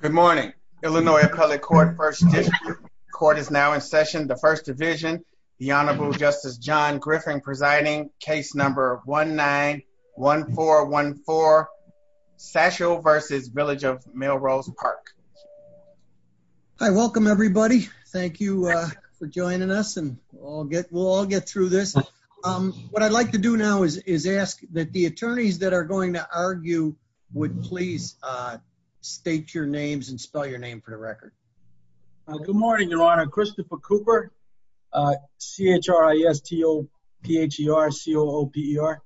Good morning. Illinois Appellate Court, First Division. Court is now in session. The First Division, the Honorable Justice John Griffin presiding, case number 1-9-1-4-1-4, Satchel versus Village of Melrose Park. Hi, welcome everybody. Thank you for joining us and we'll all get through this. What I'd like to do now is ask that the attorneys that are going to spell your name for the record. Good morning, Your Honor. Christopher Cooper, C-H-R-I-S-T-O-P-H-E-R-C-O-O-P-E-R.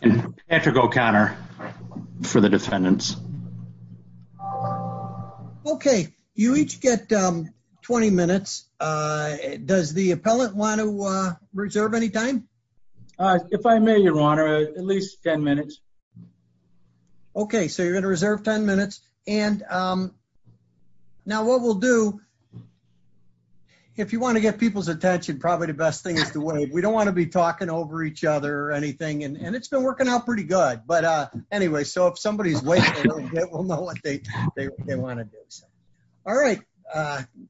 And Patrick O'Connor for the defendants. Okay, you each get 20 minutes. Does the appellant want to reserve any time? If I may, Your Honor, at least 10 minutes. Okay, so you're going to reserve 10 minutes. And now what we'll do, if you want to get people's attention, probably the best thing is to wait. We don't want to be talking over each other or anything and it's been working out pretty good. But anyway, so if somebody's waiting a little bit, we'll know what they want to do. All right,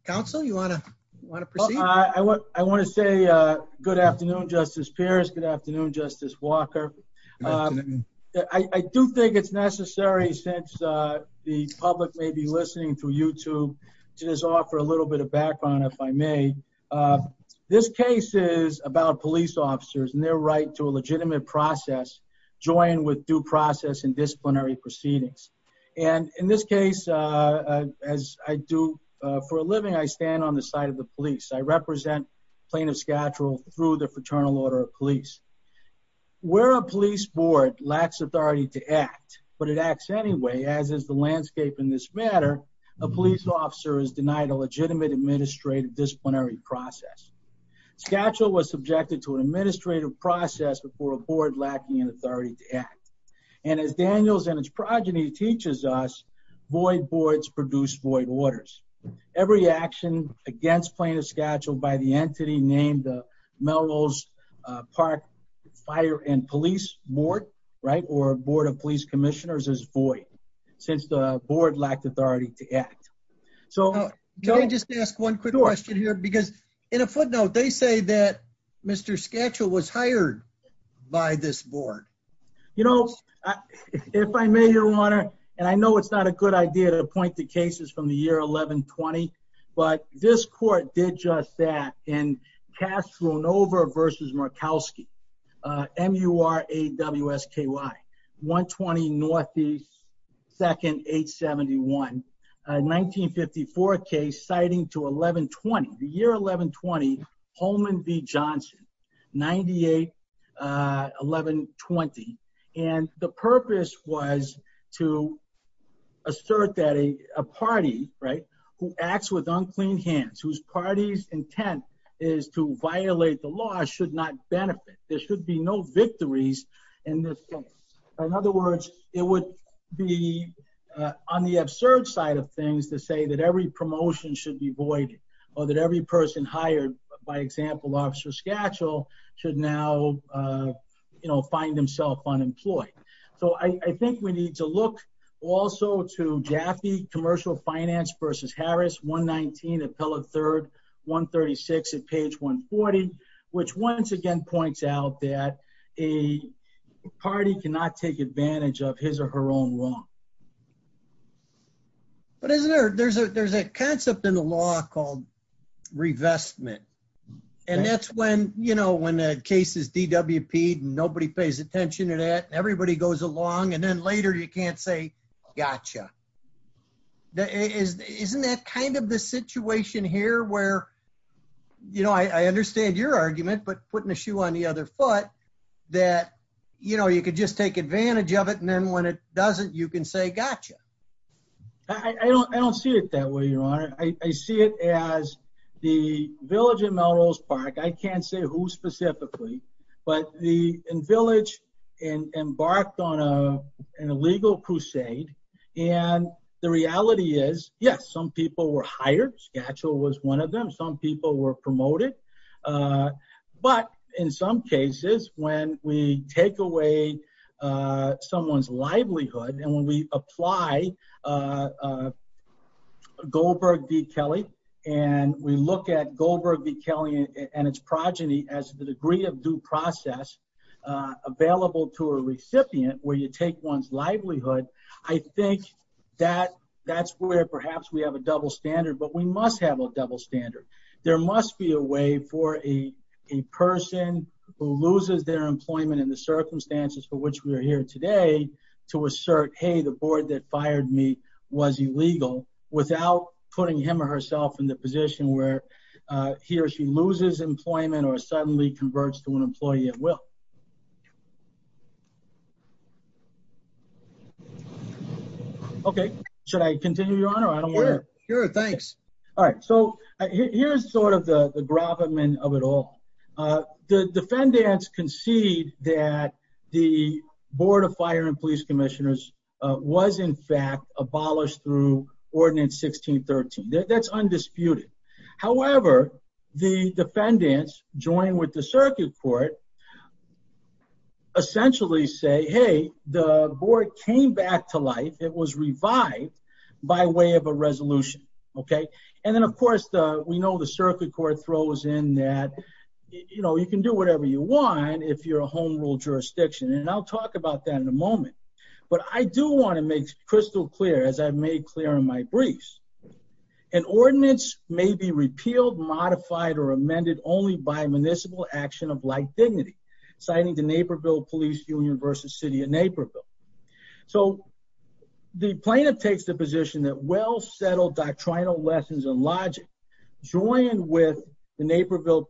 counsel, you want to want to proceed? I want to say good afternoon, Justice Pierce. Good afternoon. I do think it's necessary, since the public may be listening through YouTube, to just offer a little bit of background, if I may. This case is about police officers and their right to a legitimate process joined with due process and disciplinary proceedings. And in this case, as I do for a living, I stand on the side of the police. I represent plaintiff's schedule through the Fraternal Order of Police. Where a police board lacks authority to act, but it acts anyway, as is the landscape in this matter, a police officer is denied a legitimate administrative disciplinary process. Schedule was subjected to an administrative process before a board lacking in authority to act. And as Daniels and his progeny teaches us, void boards produce void orders. Every action against plaintiff's schedule by the Fire and Police Board, right, or Board of Police Commissioners is void, since the board lacked authority to act. So can I just ask one quick question here? Because in a footnote, they say that Mr. Schedule was hired by this board. You know, if I may, Your Honor, and I know it's not a good idea to point the cases from the year 1120, but this court did just that in Castronova v. Murkowski, M-U-R-A-W-S-K-Y, 120 Northeast, 2nd, 871, 1954 case, citing to 1120, the year 1120, Holman v. Johnson, 98, 1120. And the purpose was to assert that a party, right, who acts with unclean hands, whose party's intent is to violate the law, should not benefit. There should be no victories in this case. In other words, it would be on the absurd side of things to say that every promotion should be voided, or that every person hired by example Officer Schedule should now, you know, find himself unemployed. So I think we need to look also to Jaffe Commercial Finance v. Harris, 119 Appellate 3rd, 136 at page 140, which once again points out that a party cannot take advantage of his or her own wrong. But isn't there, there's a, there's a concept in the law called revestment, and that's when, you know, when the case is DWP'd, nobody pays attention to that, everybody goes along, and then later you can't say gotcha. Isn't that kind of the situation here where, you know, I understand your argument, but putting a shoe on the other foot, that, you know, you could just take advantage of it, and then when it doesn't, you can say gotcha. I don't, I don't see it that way, your honor. I see it as the village in Melrose Park, I can't say who specifically, but the village embarked on a an illegal crusade, and the reality is, yes, some people were hired, Scatchel was one of them, some people were promoted, but in some cases when we take away someone's livelihood, and when we apply Goldberg v. Kelly, and we look at Goldberg v. Kelly and its progeny as the degree of due process available to a recipient, where you take one's livelihood, I think that that's where perhaps we have a double standard, but we must have a double standard. There must be a way for a person who loses their employment in the circumstances for which we are here today to assert, hey, the board that fired me was illegal, without putting him or herself in the position where he or she loses employment or suddenly converts to an employee at will. Okay, should I continue, your honor? Sure, thanks. All right, so here's sort of the the gravamen of it all. The defendants concede that the Board of Fire and Police Commissioners was in fact abolished through Ordinance 1613. That's undisputed. However, the defendants, joined with the circuit court, essentially say, hey, the board came back to life. It was revived by way of a resolution, okay? And then, of course, we know the circuit court throws in that, you know, you can do whatever you want if you're a home rule jurisdiction, and I'll talk about that in a moment, but I do want to make crystal clear, as I've made clear in my briefs, an ordinance may be repealed, modified, or amended only by municipal action of like dignity, citing the Naperville Police Union versus City of Naperville. So the plaintiff takes the position that well-settled doctrinal lessons and logic, joined with the Naperville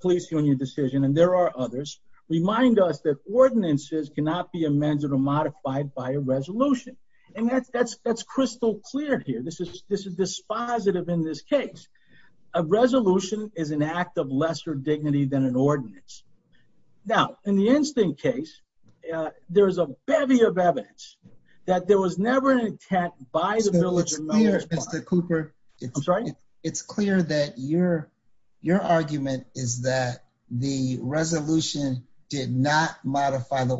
Police Union decision, and there are others, remind us that ordinances cannot be amended or modified by a resolution. And that's crystal clear here. This is dispositive in this case. A resolution is an act of lesser dignity than an ordinance. Now, in the instinct case, there is a bevy of evidence that there was never an intent by the village. Mr. Cooper, it's clear that your argument is that the resolution did not modify the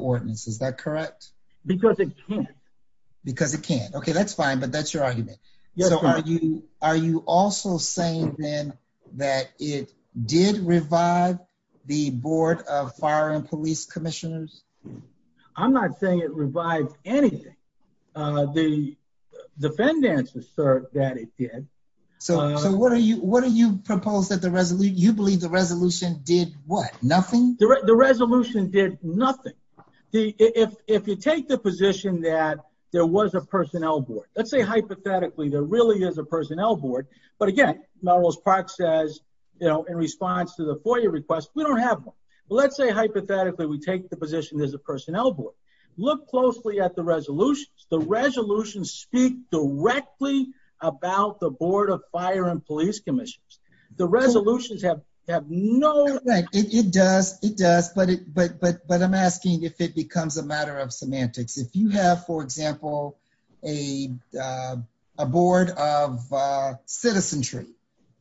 because it can. Okay, that's fine, but that's your argument. So are you are you also saying then that it did revive the Board of Fire and Police Commissioners? I'm not saying it revived anything. The defendants assert that it did. So what are you, what do you propose that the resolution, you believe the resolution did what, nothing? The resolution did nothing. If you take the position that there was a personnel board, let's say hypothetically there really is a personnel board, but again, Melrose Park says, you know, in response to the FOIA request, we don't have one. Let's say hypothetically we take the position there's a personnel board. Look closely at the resolutions. The resolutions speak directly about the Board of Fire and Police Commissioners. The resolutions have no... It does, it does, but I'm asking if it becomes a matter of semantics. If you have, for example, a board of citizenry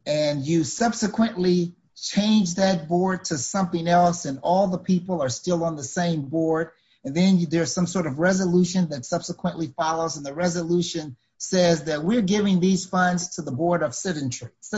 and you subsequently change that board to something else and all the people are still on the same board and then there's some sort of resolution that subsequently follows and the resolution says that we're giving these funds to the Board of Residents. So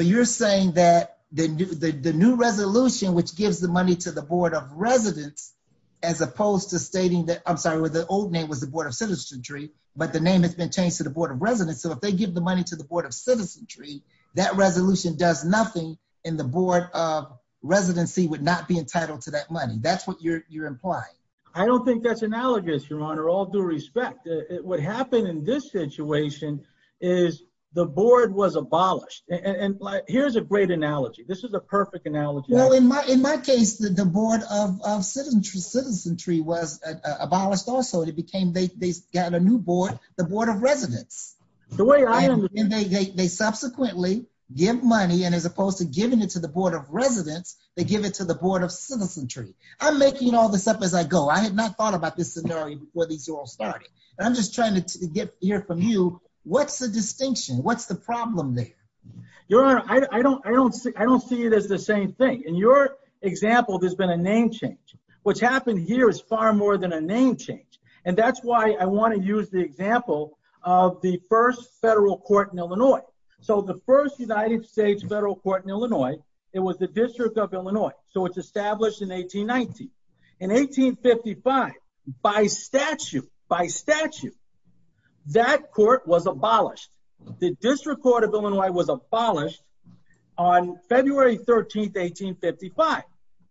you're saying that the new resolution which gives the money to the Board of Residents as opposed to stating that, I'm sorry, where the old name was the Board of Citizenry, but the name has been changed to the Board of Residents. So if they give the money to the Board of Citizenry, that resolution does nothing and the Board of Residency would not be entitled to that money. That's what you're implying. I don't think that's analogous, Your Honor, all due respect. What happened in this situation is the Board was abolished and here's a great analogy. This is a perfect analogy. Well, in my case, the Board of Citizenry was abolished also. It became, they got a new board, the Board of Residents. The way I understand it. They subsequently give money and as opposed to giving it to the Board of Residents, they give it to the Board of Citizenry. I'm making all this up as I go. I had not thought about this scenario before these all started. I'm just trying to hear from you. What's the distinction? What's the problem there? Your Honor, I don't see it as the same thing. In your example, there's been a name change. What's happened here is far more than a name change and that's why I want to use the example of the first federal court in Illinois. So the first United States federal court in Illinois, it was the District of Illinois. So it's established in 1819. In 1855, by statute, by statute, that court was abolished. The District Court of Illinois was abolished on February 13, 1855.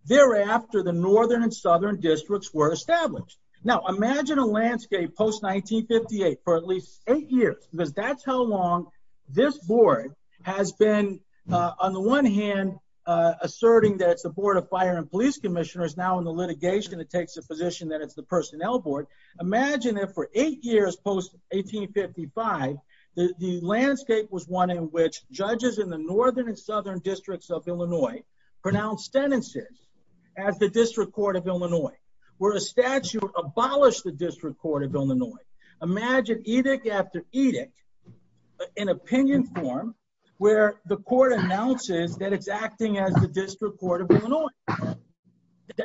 Thereafter, the northern and southern districts were established. Now, imagine a landscape post-1958 for at least eight years because that's how long this board has been, on the one hand, asserting that it's the Board of Fire and Police Commissioners. Now in the litigation, it takes a position that it's the Personnel Board. Imagine if for eight years post-1855, the landscape was one in which judges in the northern and southern districts of Illinois pronounced sentences as the District Court of Illinois, where a statute abolished the District Court of Illinois. Imagine edict after edict in opinion form where the court announces that it's the District Court of Illinois.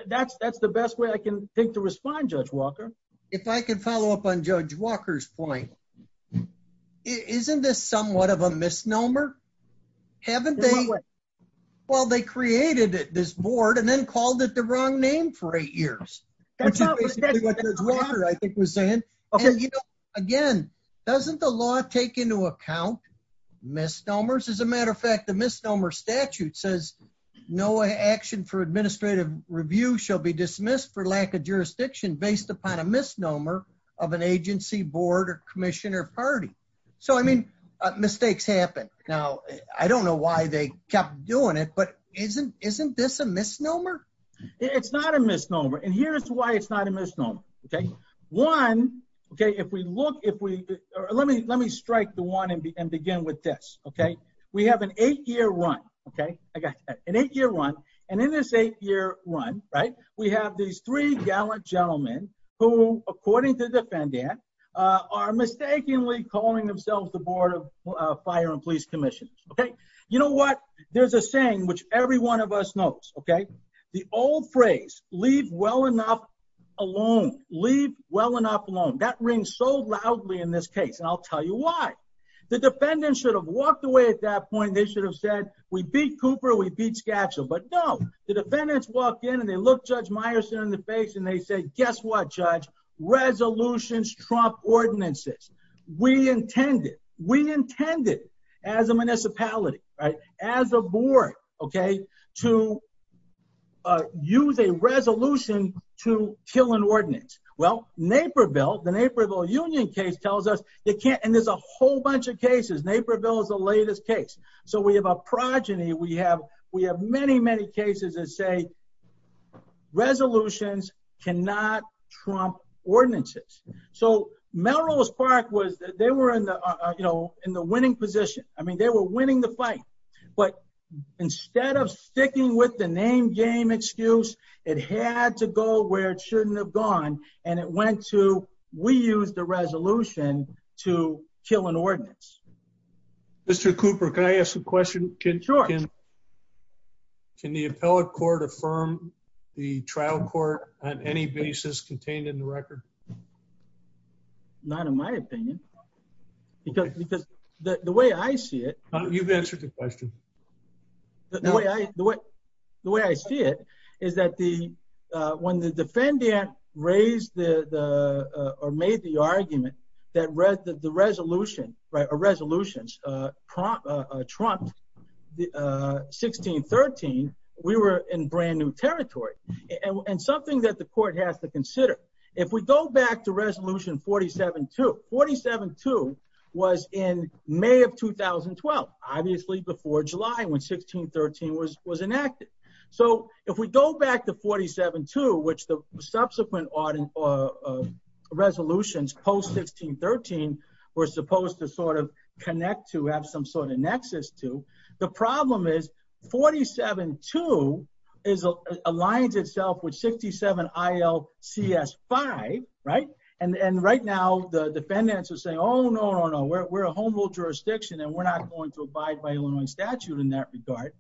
That's the best way I can think to respond, Judge Walker. If I can follow up on Judge Walker's point, isn't this somewhat of a misnomer? Haven't they, well, they created this board and then called it the wrong name for eight years, which is basically what Judge Walker, I think, was saying. Again, doesn't the law take into account misnomers? As a matter of fact, the review shall be dismissed for lack of jurisdiction based upon a misnomer of an agency, board, or commission, or party. So I mean, mistakes happen. Now, I don't know why they kept doing it, but isn't this a misnomer? It's not a misnomer, and here's why it's not a misnomer. Okay, one, okay, if we look, if we, let me strike the one and begin with this, okay. We have an eight-year run, okay, an eight-year run, and in this eight-year run, right, we have these three gallant gentlemen who, according to the defendant, are mistakenly calling themselves the Board of Fire and Police Commissioners, okay. You know what? There's a saying which every one of us knows, okay. The old phrase, leave well enough alone, leave well enough alone, that rings so loudly in this case, and I'll tell you why. The defendant should have walked away at that point. They should have said, we beat Cooper, we beat Skatchel, but no, the defendants walk in, and they look Judge Meyerson in the face, and they say, guess what, Judge, resolutions trump ordinances. We intended, we intended as a municipality, right, as a board, okay, to use a resolution to kill an ordinance. Well, Naperville, the Naperville Union case tells us they can't, and there's a whole bunch of cases, Naperville is the latest case, so we have a progeny, we have, we have many, many cases that say resolutions cannot trump ordinances. So Melrose Park was, they were in the, you know, in the winning position. I mean, they were winning the fight, but instead of sticking with the name game excuse, it had to go where it shouldn't have gone, and it went to, we used the resolution to kill an ordinance. Mr. Cooper, can I ask a question? Sure. Can the appellate court affirm the trial court on any basis contained in the record? Not in my opinion, because the way I see it, You've answered the question. The way I see it is that the, when the defendant raised the, or made the argument that the resolution, right, or resolutions trumped 1613, we were in brand new territory, and something that the court has to consider. If we go back to resolution 47-2, 47-2 was in May of 2012, obviously before July, when 1613 was enacted. So if we go back to 47-2, which the subsequent resolutions post-1613 were supposed to sort of connect to, have some sort of nexus to, the problem is 47-2 aligns itself with 67 ILCS-5, right? And right now the defendants are saying, oh, no, no, no, we're a home rule jurisdiction, and we're not going to abide by Illinois statute in that regard.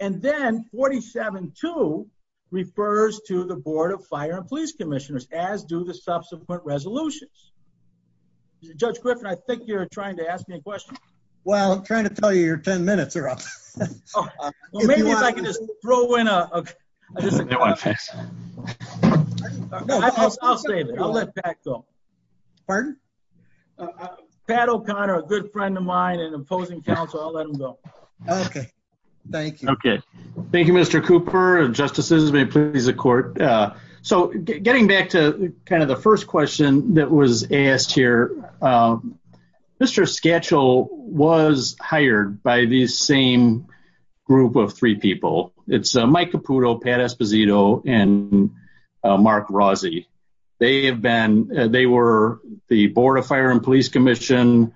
And then 47-2 refers to the Board of Fire and Police Commissioners, as do the subsequent resolutions. Judge Griffin, I think you're trying to ask me a question. Well, I'm trying to tell you your 10 minutes are up. Oh, well, maybe if I can just throw in a, I'll let Pat go. Pardon? Pat O'Connor, a good friend of mine and opposing counsel, I'll let him go. Okay. Thank you. Okay. Thank you, Mr. Cooper. Justices, may it please the court. So getting back to kind of the first question that was asked here, Mr. Skatchel was hired by the same group of three people. It's Mike Caputo, Pat Esposito, and Mark Rossi. They were the Board of Fire and Police Commission,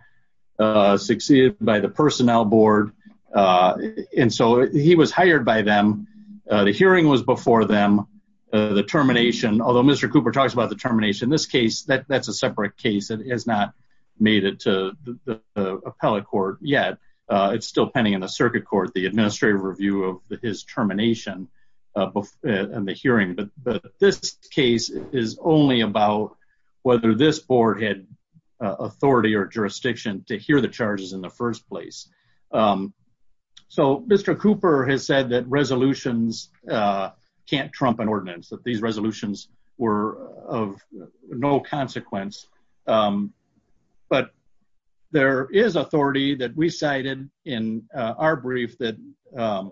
uh, succeeded by the personnel board. Uh, and so he was hired by them. The hearing was before them. The termination, although Mr. Cooper talks about the termination, this case, that that's a separate case. It has not made it to the appellate court yet. Uh, it's still pending in the circuit court, the administrative review of his termination, uh, and the hearing. But this case is only about whether this board had, uh, authority or jurisdiction to hear the charges in the first place. Um, so Mr. Cooper has said that resolutions, uh, can't trump an ordinance that these resolutions were of no consequence. Um, but there is authority that we cited in our brief that, um,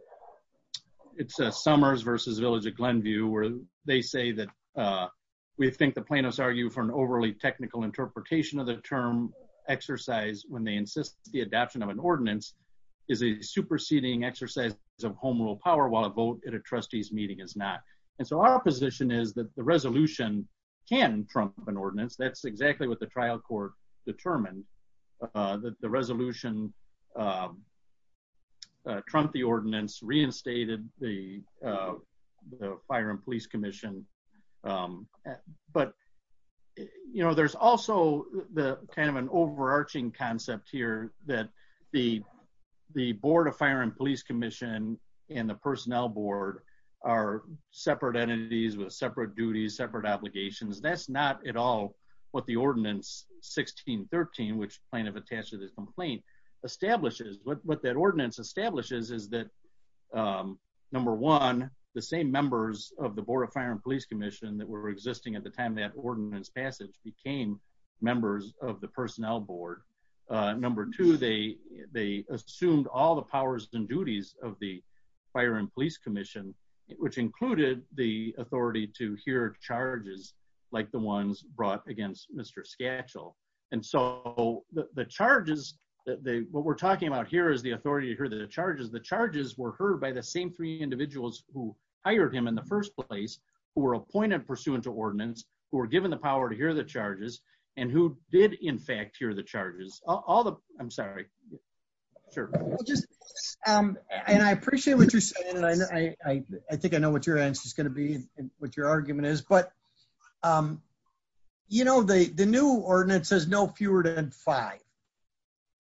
it's a Summers versus Village of Glenview where they say that, uh, we think the plaintiffs argue for an overly technical interpretation of the term exercise when they insist the adoption of an ordinance is a superseding exercise of home rule power while a vote at a trustee's meeting is not. And so our position is that the resolution can trump an ordinance. That's exactly what the trial court determined, uh, that the resolution, um, uh, trump, the ordinance reinstated the, uh, the fire and police commission. Um, but you know, there's also the kind of an overarching concept here that the, the board of fire and police commission and the personnel board are separate entities with separate duties, separate obligations. That's not at all what the ordinance 1613, which plaintiff attached to this complaint. Establishes what that ordinance establishes is that, um, number one, the same members of the board of fire and police commission that were existing at the time that ordinance passage became members of the personnel board. Uh, number two, they, they assumed all the powers and duties of the fire and police commission, which included the authority to hear charges like the ones brought against Mr. Sketchel. And so the charges that they, what we're talking about here is the authority to hear the charges. The charges were heard by the same three individuals who hired him in the first place, who were appointed pursuant to ordinance, who were given the power to hear the charges and who did in fact, hear the charges, all the, I'm sorry. Sure. Um, and I appreciate what you're saying. And I, I, I think I know what your answer is going to be and what your argument is, but, um, you know, the, the new ordinance has no fewer than five,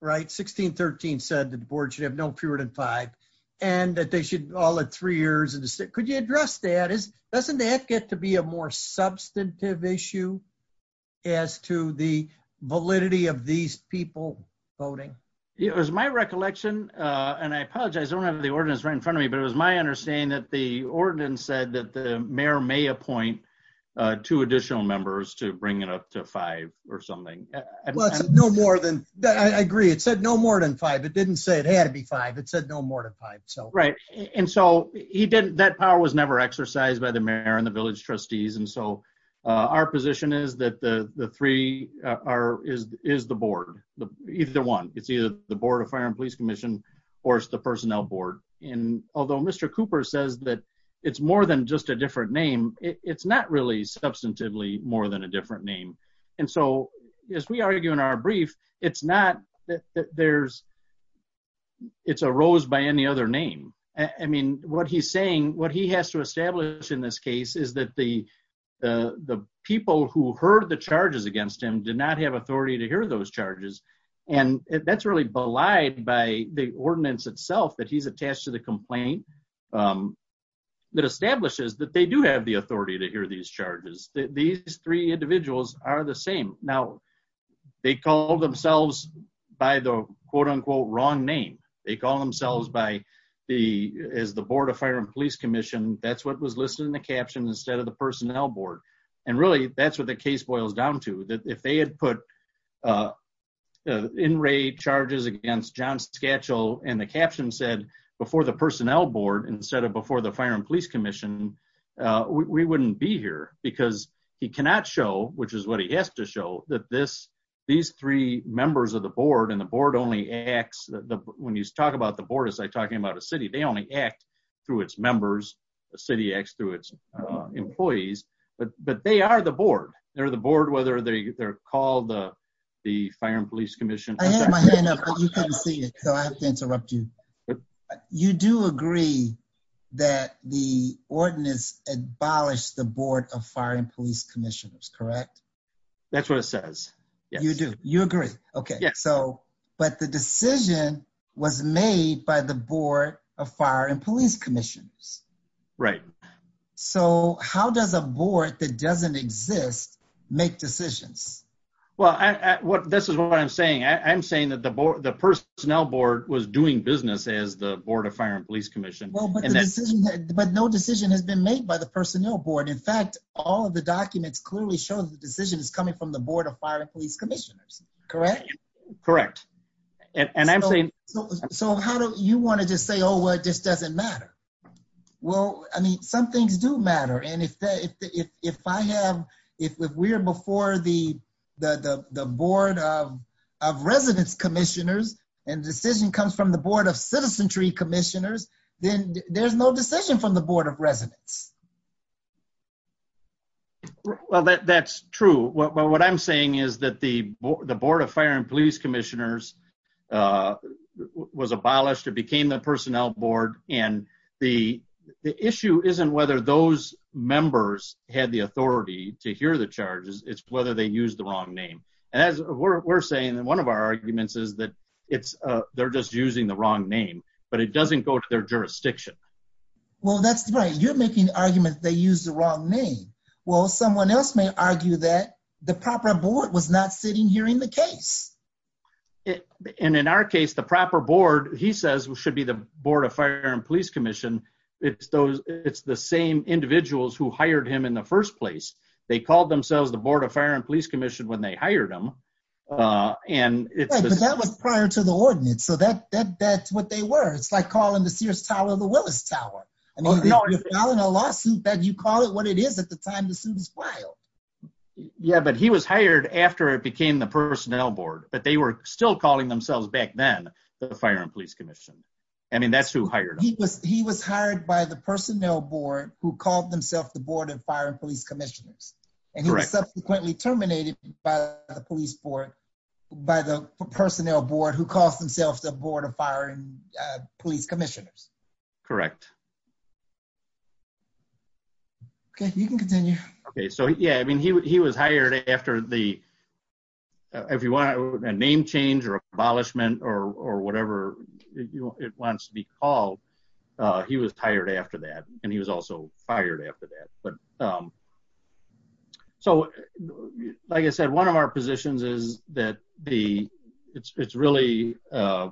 right? 1613 said that the board should have no fewer than five and that they should all at three years in the state. Could you address that? Is, doesn't that get to be a more substantive issue as to the validity of these people voting? It was my recollection. Uh, and I apologize. I don't have the ordinance right in front of me, but it was my understanding that the appoint, uh, two additional members to bring it up to five or something. No more than that. I agree. It said no more than five. It didn't say it had to be five. It said no more than five. So, right. And so he didn't, that power was never exercised by the mayor and the village trustees. And so, uh, our position is that the, the three, uh, are, is, is the board, either one, it's either the board of fire and police commission or it's the personnel board. And although Mr. Cooper says that it's more than just a different name, it's not really substantively more than a different name. And so as we argue in our brief, it's not that there's, it's a rose by any other name. I mean, what he's saying, what he has to establish in this case is that the, the, the people who heard the charges against him did not have authority to hear those charges. And that's really belied by the ordinance itself that he's attached to the complaint. Um, that establishes that they do have the authority to hear these charges. These three individuals are the same. Now they call themselves by the quote unquote, wrong name. They call themselves by the, as the board of fire and police commission. That's what was listed in the caption instead of the personnel board. And really that's what the case boils down to that. If they had put, uh, uh, in rate charges against John's schedule and the caption said before the personnel board, instead of before the fire and police commission, uh, we wouldn't be here because he cannot show, which is what he has to show that this, these three members of the board and the board only acts when you talk about the board, as I talking about a city, they only act through its members. A city acts through its, uh, employees, but, but they are the board. They're the board, whether they're called the, the fire and police commission. I had my hand up, but you couldn't see it. So I have to interrupt you. You do agree that the ordinance abolished the board of fire and police commissioners, correct? That's what it says. You do you agree? Okay. So, but the decision was made by the board of fire and police commissions. Right. So how does a board that doesn't exist make decisions? Well, I, what, this is what I'm saying. I'm saying that the board, the personnel board was doing business as the board of fire and police commission, but no decision has been made by the personnel board. In fact, all of the documents clearly show that the decision is coming from the board of fire and police commissioners. Correct. Correct. And I'm saying, so how do you want to just say, oh, well, it just doesn't matter. Well, I mean, some things do matter. And if that, if, if, if I have, if we're before the, the, the, the board of, of residence commissioners and decision comes from the board of citizenry commissioners, then there's no decision from the board of residents. Well, that's true. But what I'm saying is that the, the board of fire and police commissioners was abolished. It became the personnel board. And the, the issue isn't whether those members had the authority to hear the charges. It's whether they use the wrong name. And as we're saying that one of our arguments is that it's, uh, they're just using the wrong name, but it doesn't go to their jurisdiction. Well, that's right. You're making arguments. They use the wrong name. Well, someone else may argue that the proper board was not sitting here in the case. And in our case, the proper board, he says we should be the board of fire and police commission. It's those, it's the same individuals who hired him in the first place. They called themselves the board of fire and police commission when they hired them. And that was prior to the ordinance. So that, that, that's what they were. It's like calling the Sears tower, the Willis tower, a lawsuit that you call it what it is at the time. Yeah, but he was hired after it became the personnel board. But they were still calling themselves back then the fire and police commission. I mean, that's who hired him. He was hired by the personnel board who called themselves the board of fire and police commissioners and he was subsequently terminated by the police board, by the personnel board who calls themselves the board of fire and police commissioners. Correct. Okay. You can continue. Okay. If you want a name change or abolishment or, or whatever it wants to be called, he was tired after that. And he was also fired after that. But, um, so like I said, one of our positions is that the, it's, it's really, uh,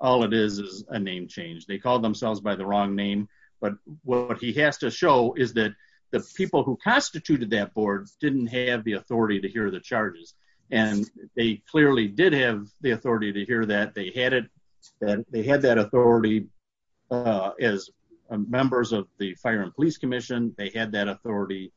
all it is is a name change. They called themselves by the wrong name, but what he has to show is that the people who constituted that board didn't have the authority to hear the charges. And they clearly did have the authority to hear that they had it, that they had that authority, uh, as members of the fire and police commission. They had that authority,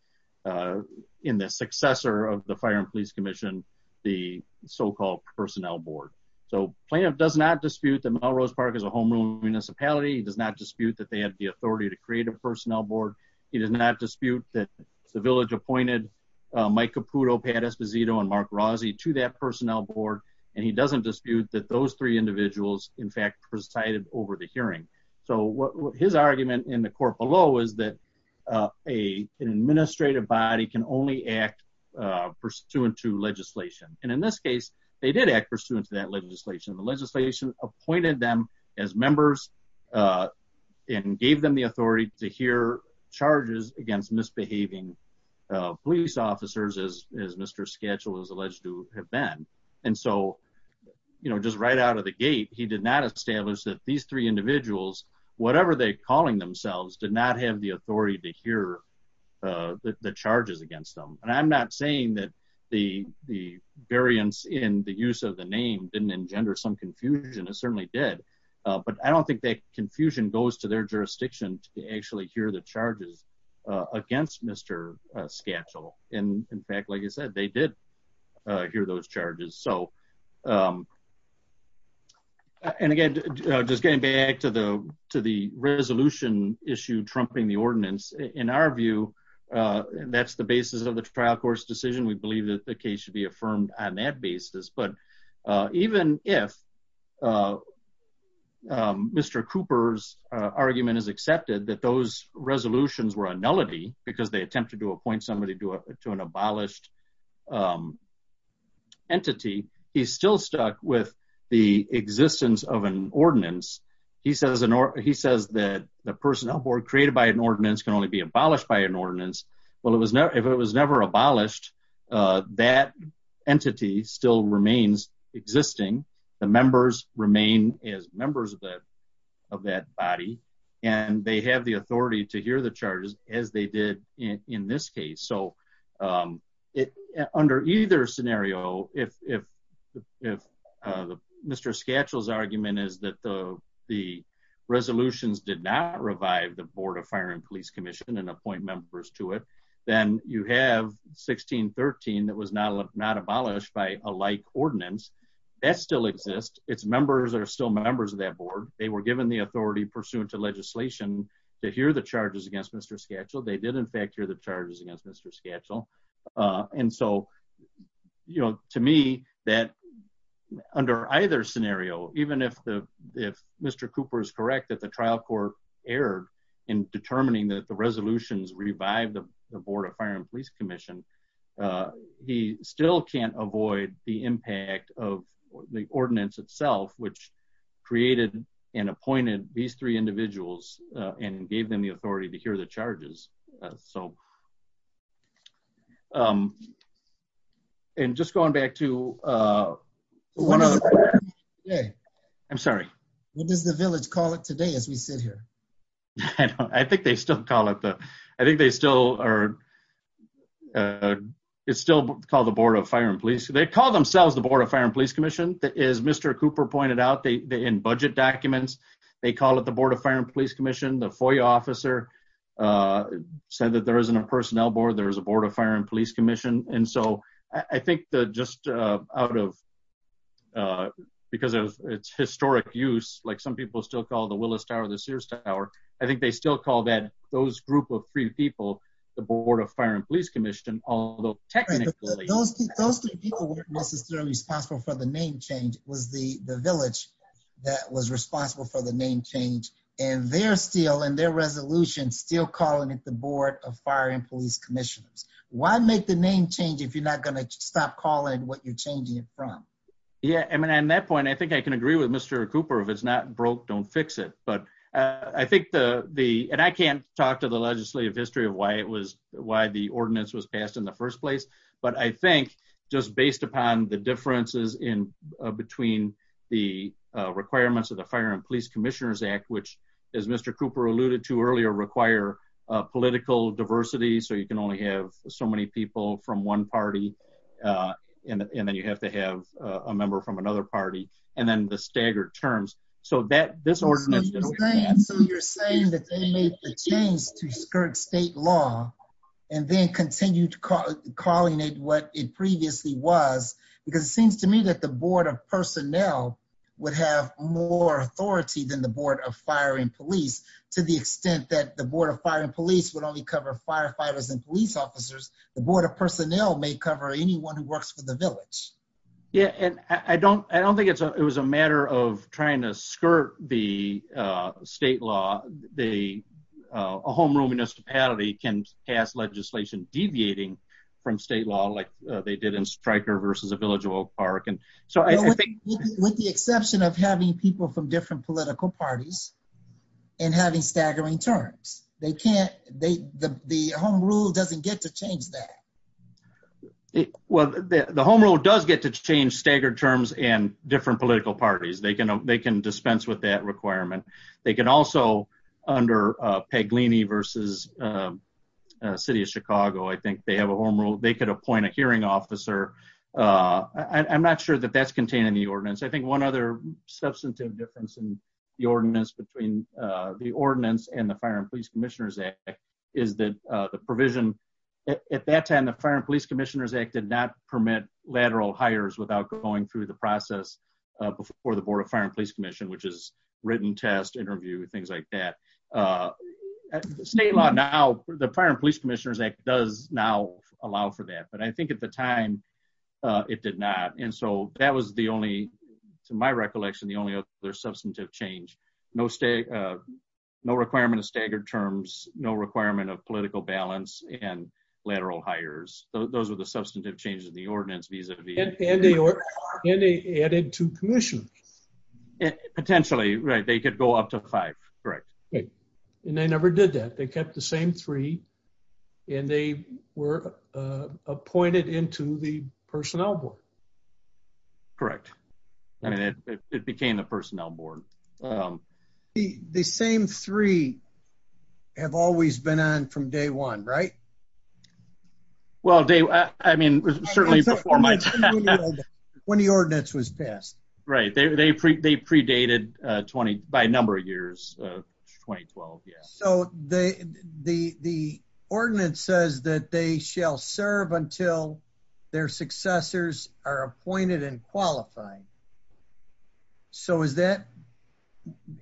uh, in the successor of the fire and police commission, the so called personnel board. So plaintiff does not dispute them. Melrose park is a homeroom municipality. He does not dispute that they have the authority to create a personnel board. He does not dispute that the village appointed, uh, Mike Caputo, Pat Esposito and Mark Rossi to that personnel board. And he doesn't dispute that those three individuals in fact presided over the hearing. So what his argument in the court below is that, uh, a, an administrative body can only act, uh, pursuant to legislation. And in this case, they did act pursuant to that legislation. The legislation appointed them as members, uh, and gave them the authority to hear charges against misbehaving, uh, police officers as, as Mr. Schedule is alleged to have been. And so, you know, just right out of the gate, he did not establish that these three individuals, whatever they calling themselves did not have the authority to hear, uh, the charges against them. And I'm not saying that the, the variance in the use of the name didn't engender some confusion. It certainly did. But I don't think that confusion goes to their jurisdiction to actually hear the charges against Mr. Schedule. And in fact, like I said, they did hear those charges. So, um, and again, just getting back to the, to the resolution issue, trumping the ordinance in our view, uh, that's the basis of the trial course decision. We believe that the case should be affirmed on that basis. But, uh, even if, uh, um, Mr. Cooper's, uh, argument is accepted that those resolutions were a nullity because they attempted to appoint somebody to a, to an abolished, um, entity. He's still stuck with the existence of an ordinance. He says, he says that the personnel board created by an ordinance can only be abolished by an ordinance. Well, it was never, if it was never abolished, uh, that entity still remains existing. The members remain as members of that, of that body. And they have the authority to hear the charges as they did in this case. So, um, it, under either scenario, if, if, if, uh, the Mr. Schedule's argument is that the, the resolutions did not revive the board of fire and police commission and appoint members to it, then you have 1613 that was not, not abolished by a light ordinance that still exists. It's members are still members of that board. They were given the authority pursuant to legislation to hear the charges against Mr. Schedule. They did in fact hear the charges against Mr. Schedule. Uh, and so, you know, to me that under either scenario, even if the, if Mr. Cooper is correct, that the trial court error in determining that the resolutions revived the board of fire and police commission, uh, he still can't avoid the impact of the ordinance itself, which created and appointed these three individuals, uh, and gave them the So, um, and just going back to, uh, I'm sorry. What does the village call it today? As we sit here, I think they still call it the, I think they still are, uh, it's still called the board of fire and police. They call themselves the board of fire and police commission that is Mr. Cooper pointed out. They, they in budget documents, they call it the board of fire and police commission, the FOIA officer, uh, said that there isn't a personnel board. There is a board of fire and police commission. And so I think the, just, uh, out of, uh, because of its historic use, like some people still call the Willis tower, the Sears tower. I think they still call that those group of three people, the board of fire and police commission, although technically those three people weren't necessarily responsible for the name change was the village that was responsible for the name change. And they're still in their resolution, still calling it the board of fire and police commissioners. Why make the name change? If you're not going to stop calling what you're changing it from. Yeah. I mean, on that point, I think I can agree with Mr. Cooper. If it's not broke, don't fix it. But, uh, I think the, the, and I can't talk to the legislative history of why it was, why the ordinance was passed in the first place, but I think just based upon the differences in, uh, between the, uh, requirements of the fire and police commissioners act, which is Mr. Cooper alluded to earlier require a political diversity. So you can only have so many people from one party, uh, and then you have to have a member from another party and then the staggered terms. So that this ordinance, so you're saying that they made the change to skirt state law and then continue to call calling it what it previously was, because it seems to me that the board of personnel would have more authority than the board of fire and police to the extent that the board of fire and police would only cover firefighters and police officers. The board of personnel may cover anyone who works for the village. Yeah. And I don't, I don't think it's a, it was a matter of trying to skirt the, uh, state law. They, uh, a homeroom municipality can pass legislation deviating from state law, like they did in striker versus a village of Oak park. And so I think with the exception of having people from different political parties and having staggering terms, they can't, they, the, the home rule doesn't get to change that. Well, the home rule does get to change staggered terms and different political parties. They can, they can dispense with that requirement. They can also under, uh, Peg Leaney versus, um, uh, city of Chicago. I think they have a home rule. They could appoint a hearing officer. Uh, I'm not sure that that's contained in the ordinance. I think one other substantive difference in the ordinance between, uh, the ordinance and the fire and police commissioners act is that, uh, the provision at that time, the fire and police commissioners act did not permit lateral hires without going through the process before the board of fire and police commission, which is written test interview, things like that. Uh, state law. Now the fire and police commissioners act does now allow for that, but I think at the time, uh, it did not. And so that was the only, to my recollection, the only other substantive change, no state, uh, no requirement of staggered terms, no requirement of political balance and lateral hires. Those were the substantive changes in the ordinance. Vis-a-vis And they added to commission. Potentially, right. They could go up to five. Correct. And they never did that. They kept the same three and they were, uh, appointed into the personnel board. Correct. I mean, it, it became the personnel board. Um, the, the same three have always been on from day one, right? Well, Dave, I mean, certainly before my time when the ordinance was passed, right. They, they, they predated, uh, 20 by a number of years, uh, 2012. Yeah. So they, the, the ordinance says that they shall serve until their successors are appointed and qualified. So is that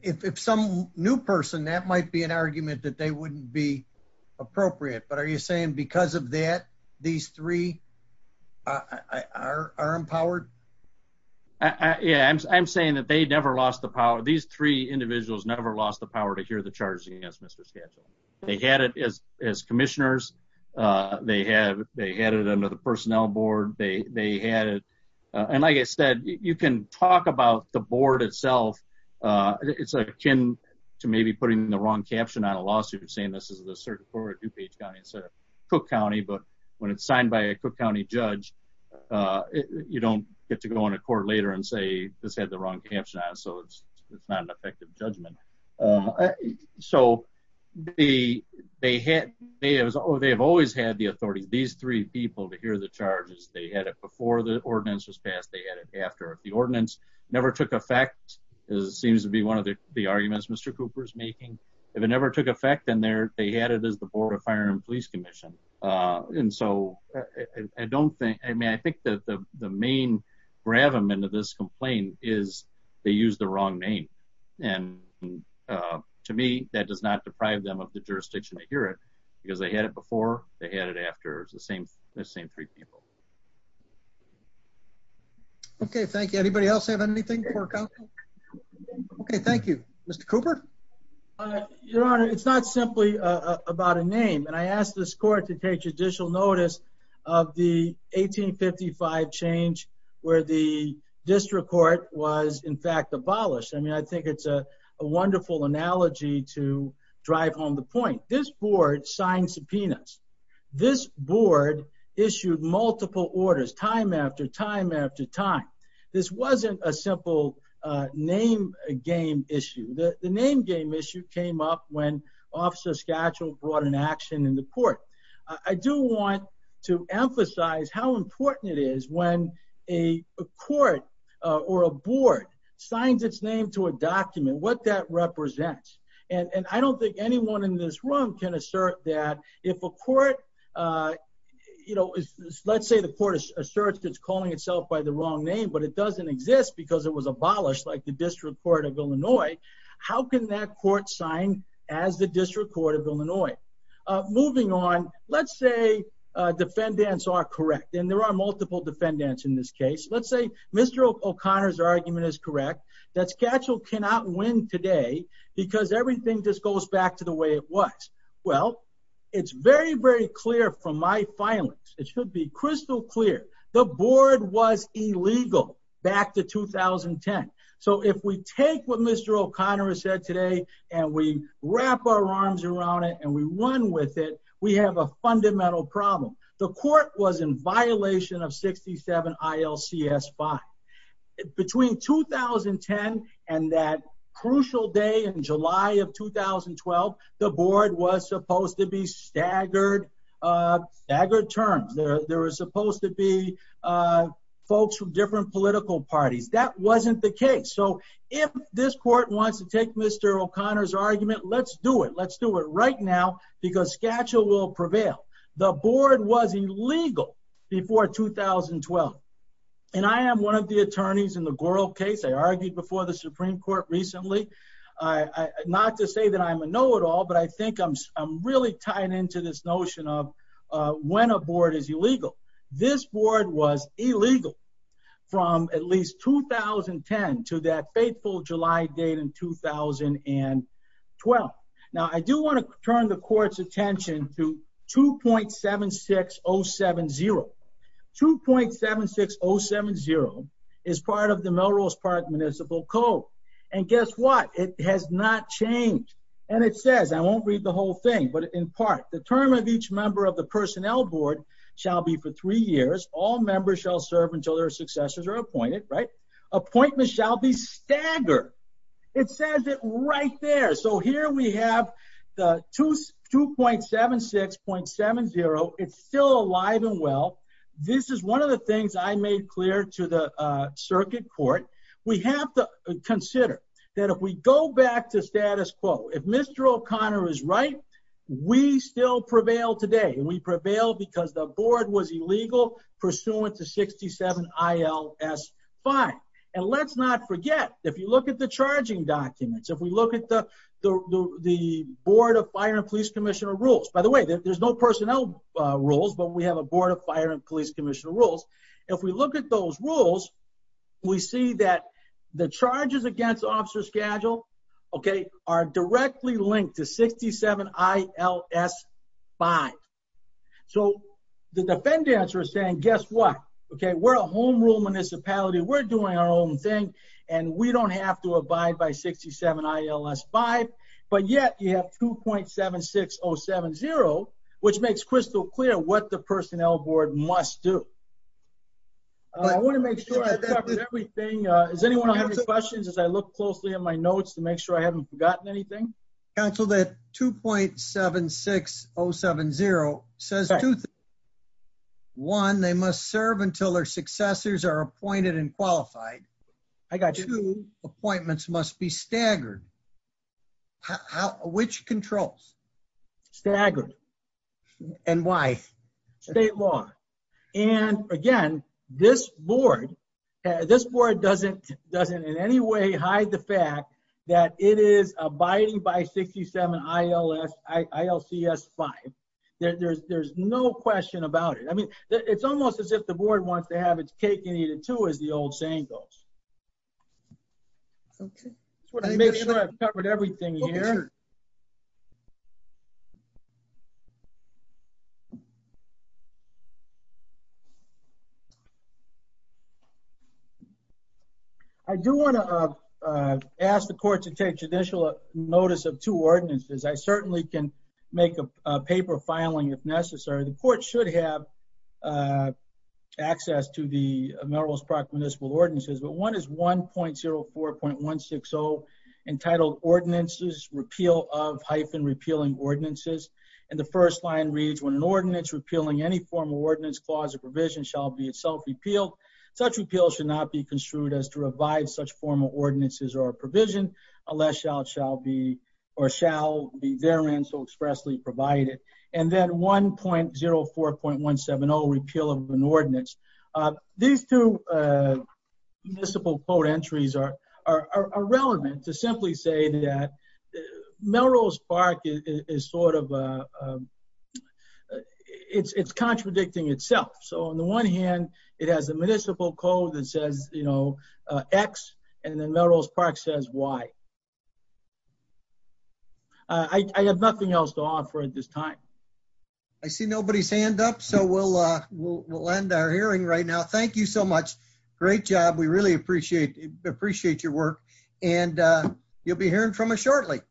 if, if some new person, that might be an argument that they wouldn't be appropriate, but are you saying because of that, these three, uh, are, are empowered? Yeah, I'm saying that they never lost the power. These three individuals never lost the power to hear the charges against Mr. Schedule. They had it as, as commissioners. Uh, they have, they had it under the personnel board. They, they had it. And like I said, you can talk about the board itself. Uh, it's akin to maybe putting the wrong caption on a lawsuit and saying, this is the DuPage County instead of Cook County. But when it's signed by a Cook County judge, uh, you don't get to go on a court later and say this had the wrong caption on it. So it's, it's not an effective judgment. Um, so the, they had, they have, they have always had the authority, these three people to hear the charges. They had it before the ordinance was passed. They had it after the ordinance never took effect. It seems to be one of the arguments Mr. Cooper's making. If it never took effect in there, they had it as the board of fire and police commission. Uh, and so I don't think, I mean, I think that the main grab them into this complaint is they use the wrong name. And, uh, to me that does not deprive them of the jurisdiction to hear it because they had it before they had it after the same, the same three people. Okay. Thank you. Anybody else have anything? Okay. Thank you, Mr. Cooper. Your Honor, it's not simply about a name. And I asked this court to take judicial notice of the 1855 change where the district court was in fact abolished. I mean, I think it's a wonderful analogy to drive home the point. This board signed subpoenas. This board issued multiple orders time after time after time. This wasn't a simple name game issue. The name game issue came up when officer schedule brought an action in the court. I do want to emphasize how important it is when a court or a board signs its name to a document, what that represents. And I don't think anyone in this room can assert that if a court, uh, you know, let's say the court asserts it's calling itself by the wrong name, but it doesn't exist because it was abolished like the district court of Illinois. How can that court sign as the district court of Illinois? Moving on, let's say defendants are correct. And there are multiple defendants in this case. Let's say Mr. O'Connor's argument is correct. That schedule cannot win today because everything just goes back to the way it was. Well, it's very, very clear from my filings. It should be crystal clear. The board was illegal back to 2010. So if we take what Mr. O'Connor said today and we wrap our arms around it and we won with it, we have a fundamental problem. The court was in violation of 67 ILCS 5. Between 2010 and that crucial day in July of 2012, the board was supposed to be staggered, uh, staggered terms. There was supposed to be, uh, folks from different political parties. That wasn't the case. So if this court wants to take Mr. O'Connor's argument, let's do it. Let's do it right now because schedule will prevail. The board was illegal before 2012. And I am one of the attorneys in the Goral case. I argued before the Supreme Court recently. Not to say that I'm a know-it-all, but I think I'm really tied into this notion of when a board is illegal. This board was illegal from at least 2010 to that fateful July date in 2012. Now, I do want to turn the court's attention to 2.76070. 2.76070 is part of the Melrose Park Municipal Code. And guess what? It has not changed. And it says, I won't read the whole thing, but in part, the term of each member of the personnel board shall be for three years. All members shall serve until their successors are appointed, right? Appointments shall be staggered. It says it right there. So here we have the 2.76.70. It's still alive and well. This is one of the things I made clear to the circuit court. We have to consider that if we go back to status quo, if Mr. O'Connor is right, we still prevail today. We prevail because the board was illegal pursuant to 67 I.L.S. 5. And let's not forget, if you look at the charging documents, if we look at the Board of Fire and Police Commissioner rules, by the way, there's no personnel rules, but we have a Board of Fire and Police Commissioner rules. If we look at those rules, we see that the charges against officer schedule, okay, are directly linked to 67 I.L.S. 5. So the defendants are saying, guess what? Okay, we're a home rule municipality. We're doing our own thing and we don't have to abide by 67 I.L.S. 5. But yet you have 2.76.070, which makes crystal clear what the personnel board must do. I want to make sure I covered everything. Does anyone have any questions as I look closely at my notes to make sure I haven't forgotten anything? Council, that 2.76.070 says, one, they must serve until their successors are appointed and qualified. I got you. Two, appointments must be staggered. Which controls? Staggered. And why? State law. And again, this board doesn't in any way hide the fact that it is abiding by 67 I.L.S., I.L.C.S. 5. There's no question about it. I mean, it's almost as if the board wants to have its cake and eat it too, as the old saying goes. Okay. Make sure I've covered everything here. Okay. I do want to ask the court to take judicial notice of two ordinances. I certainly can make a paper filing if necessary. The court should have access to the Melrose Park Municipal Ordinances, but one is 1.04.160 entitled ordinances, repeal of, hyphen, repealing ordinances. And the first line reads, when an ordinance repealing any form of ordinance, clause or provision shall be itself repealed. Such repeal should not be construed as to revive such formal ordinances or provision unless shall be, or shall be therein so expressly provided. And then 1.04.170, repeal of an ordinance. These two municipal code entries are relevant to simply say that Melrose Park is sort of, it's contradicting itself. So on the one hand, it has a municipal code that says, you know, X and then Melrose Park says Y. I have nothing else to offer at this time. I see nobody's hand up. So we'll end our hearing right now. Thank you so much. Great job. We really appreciate your work. And you'll be hearing from us shortly.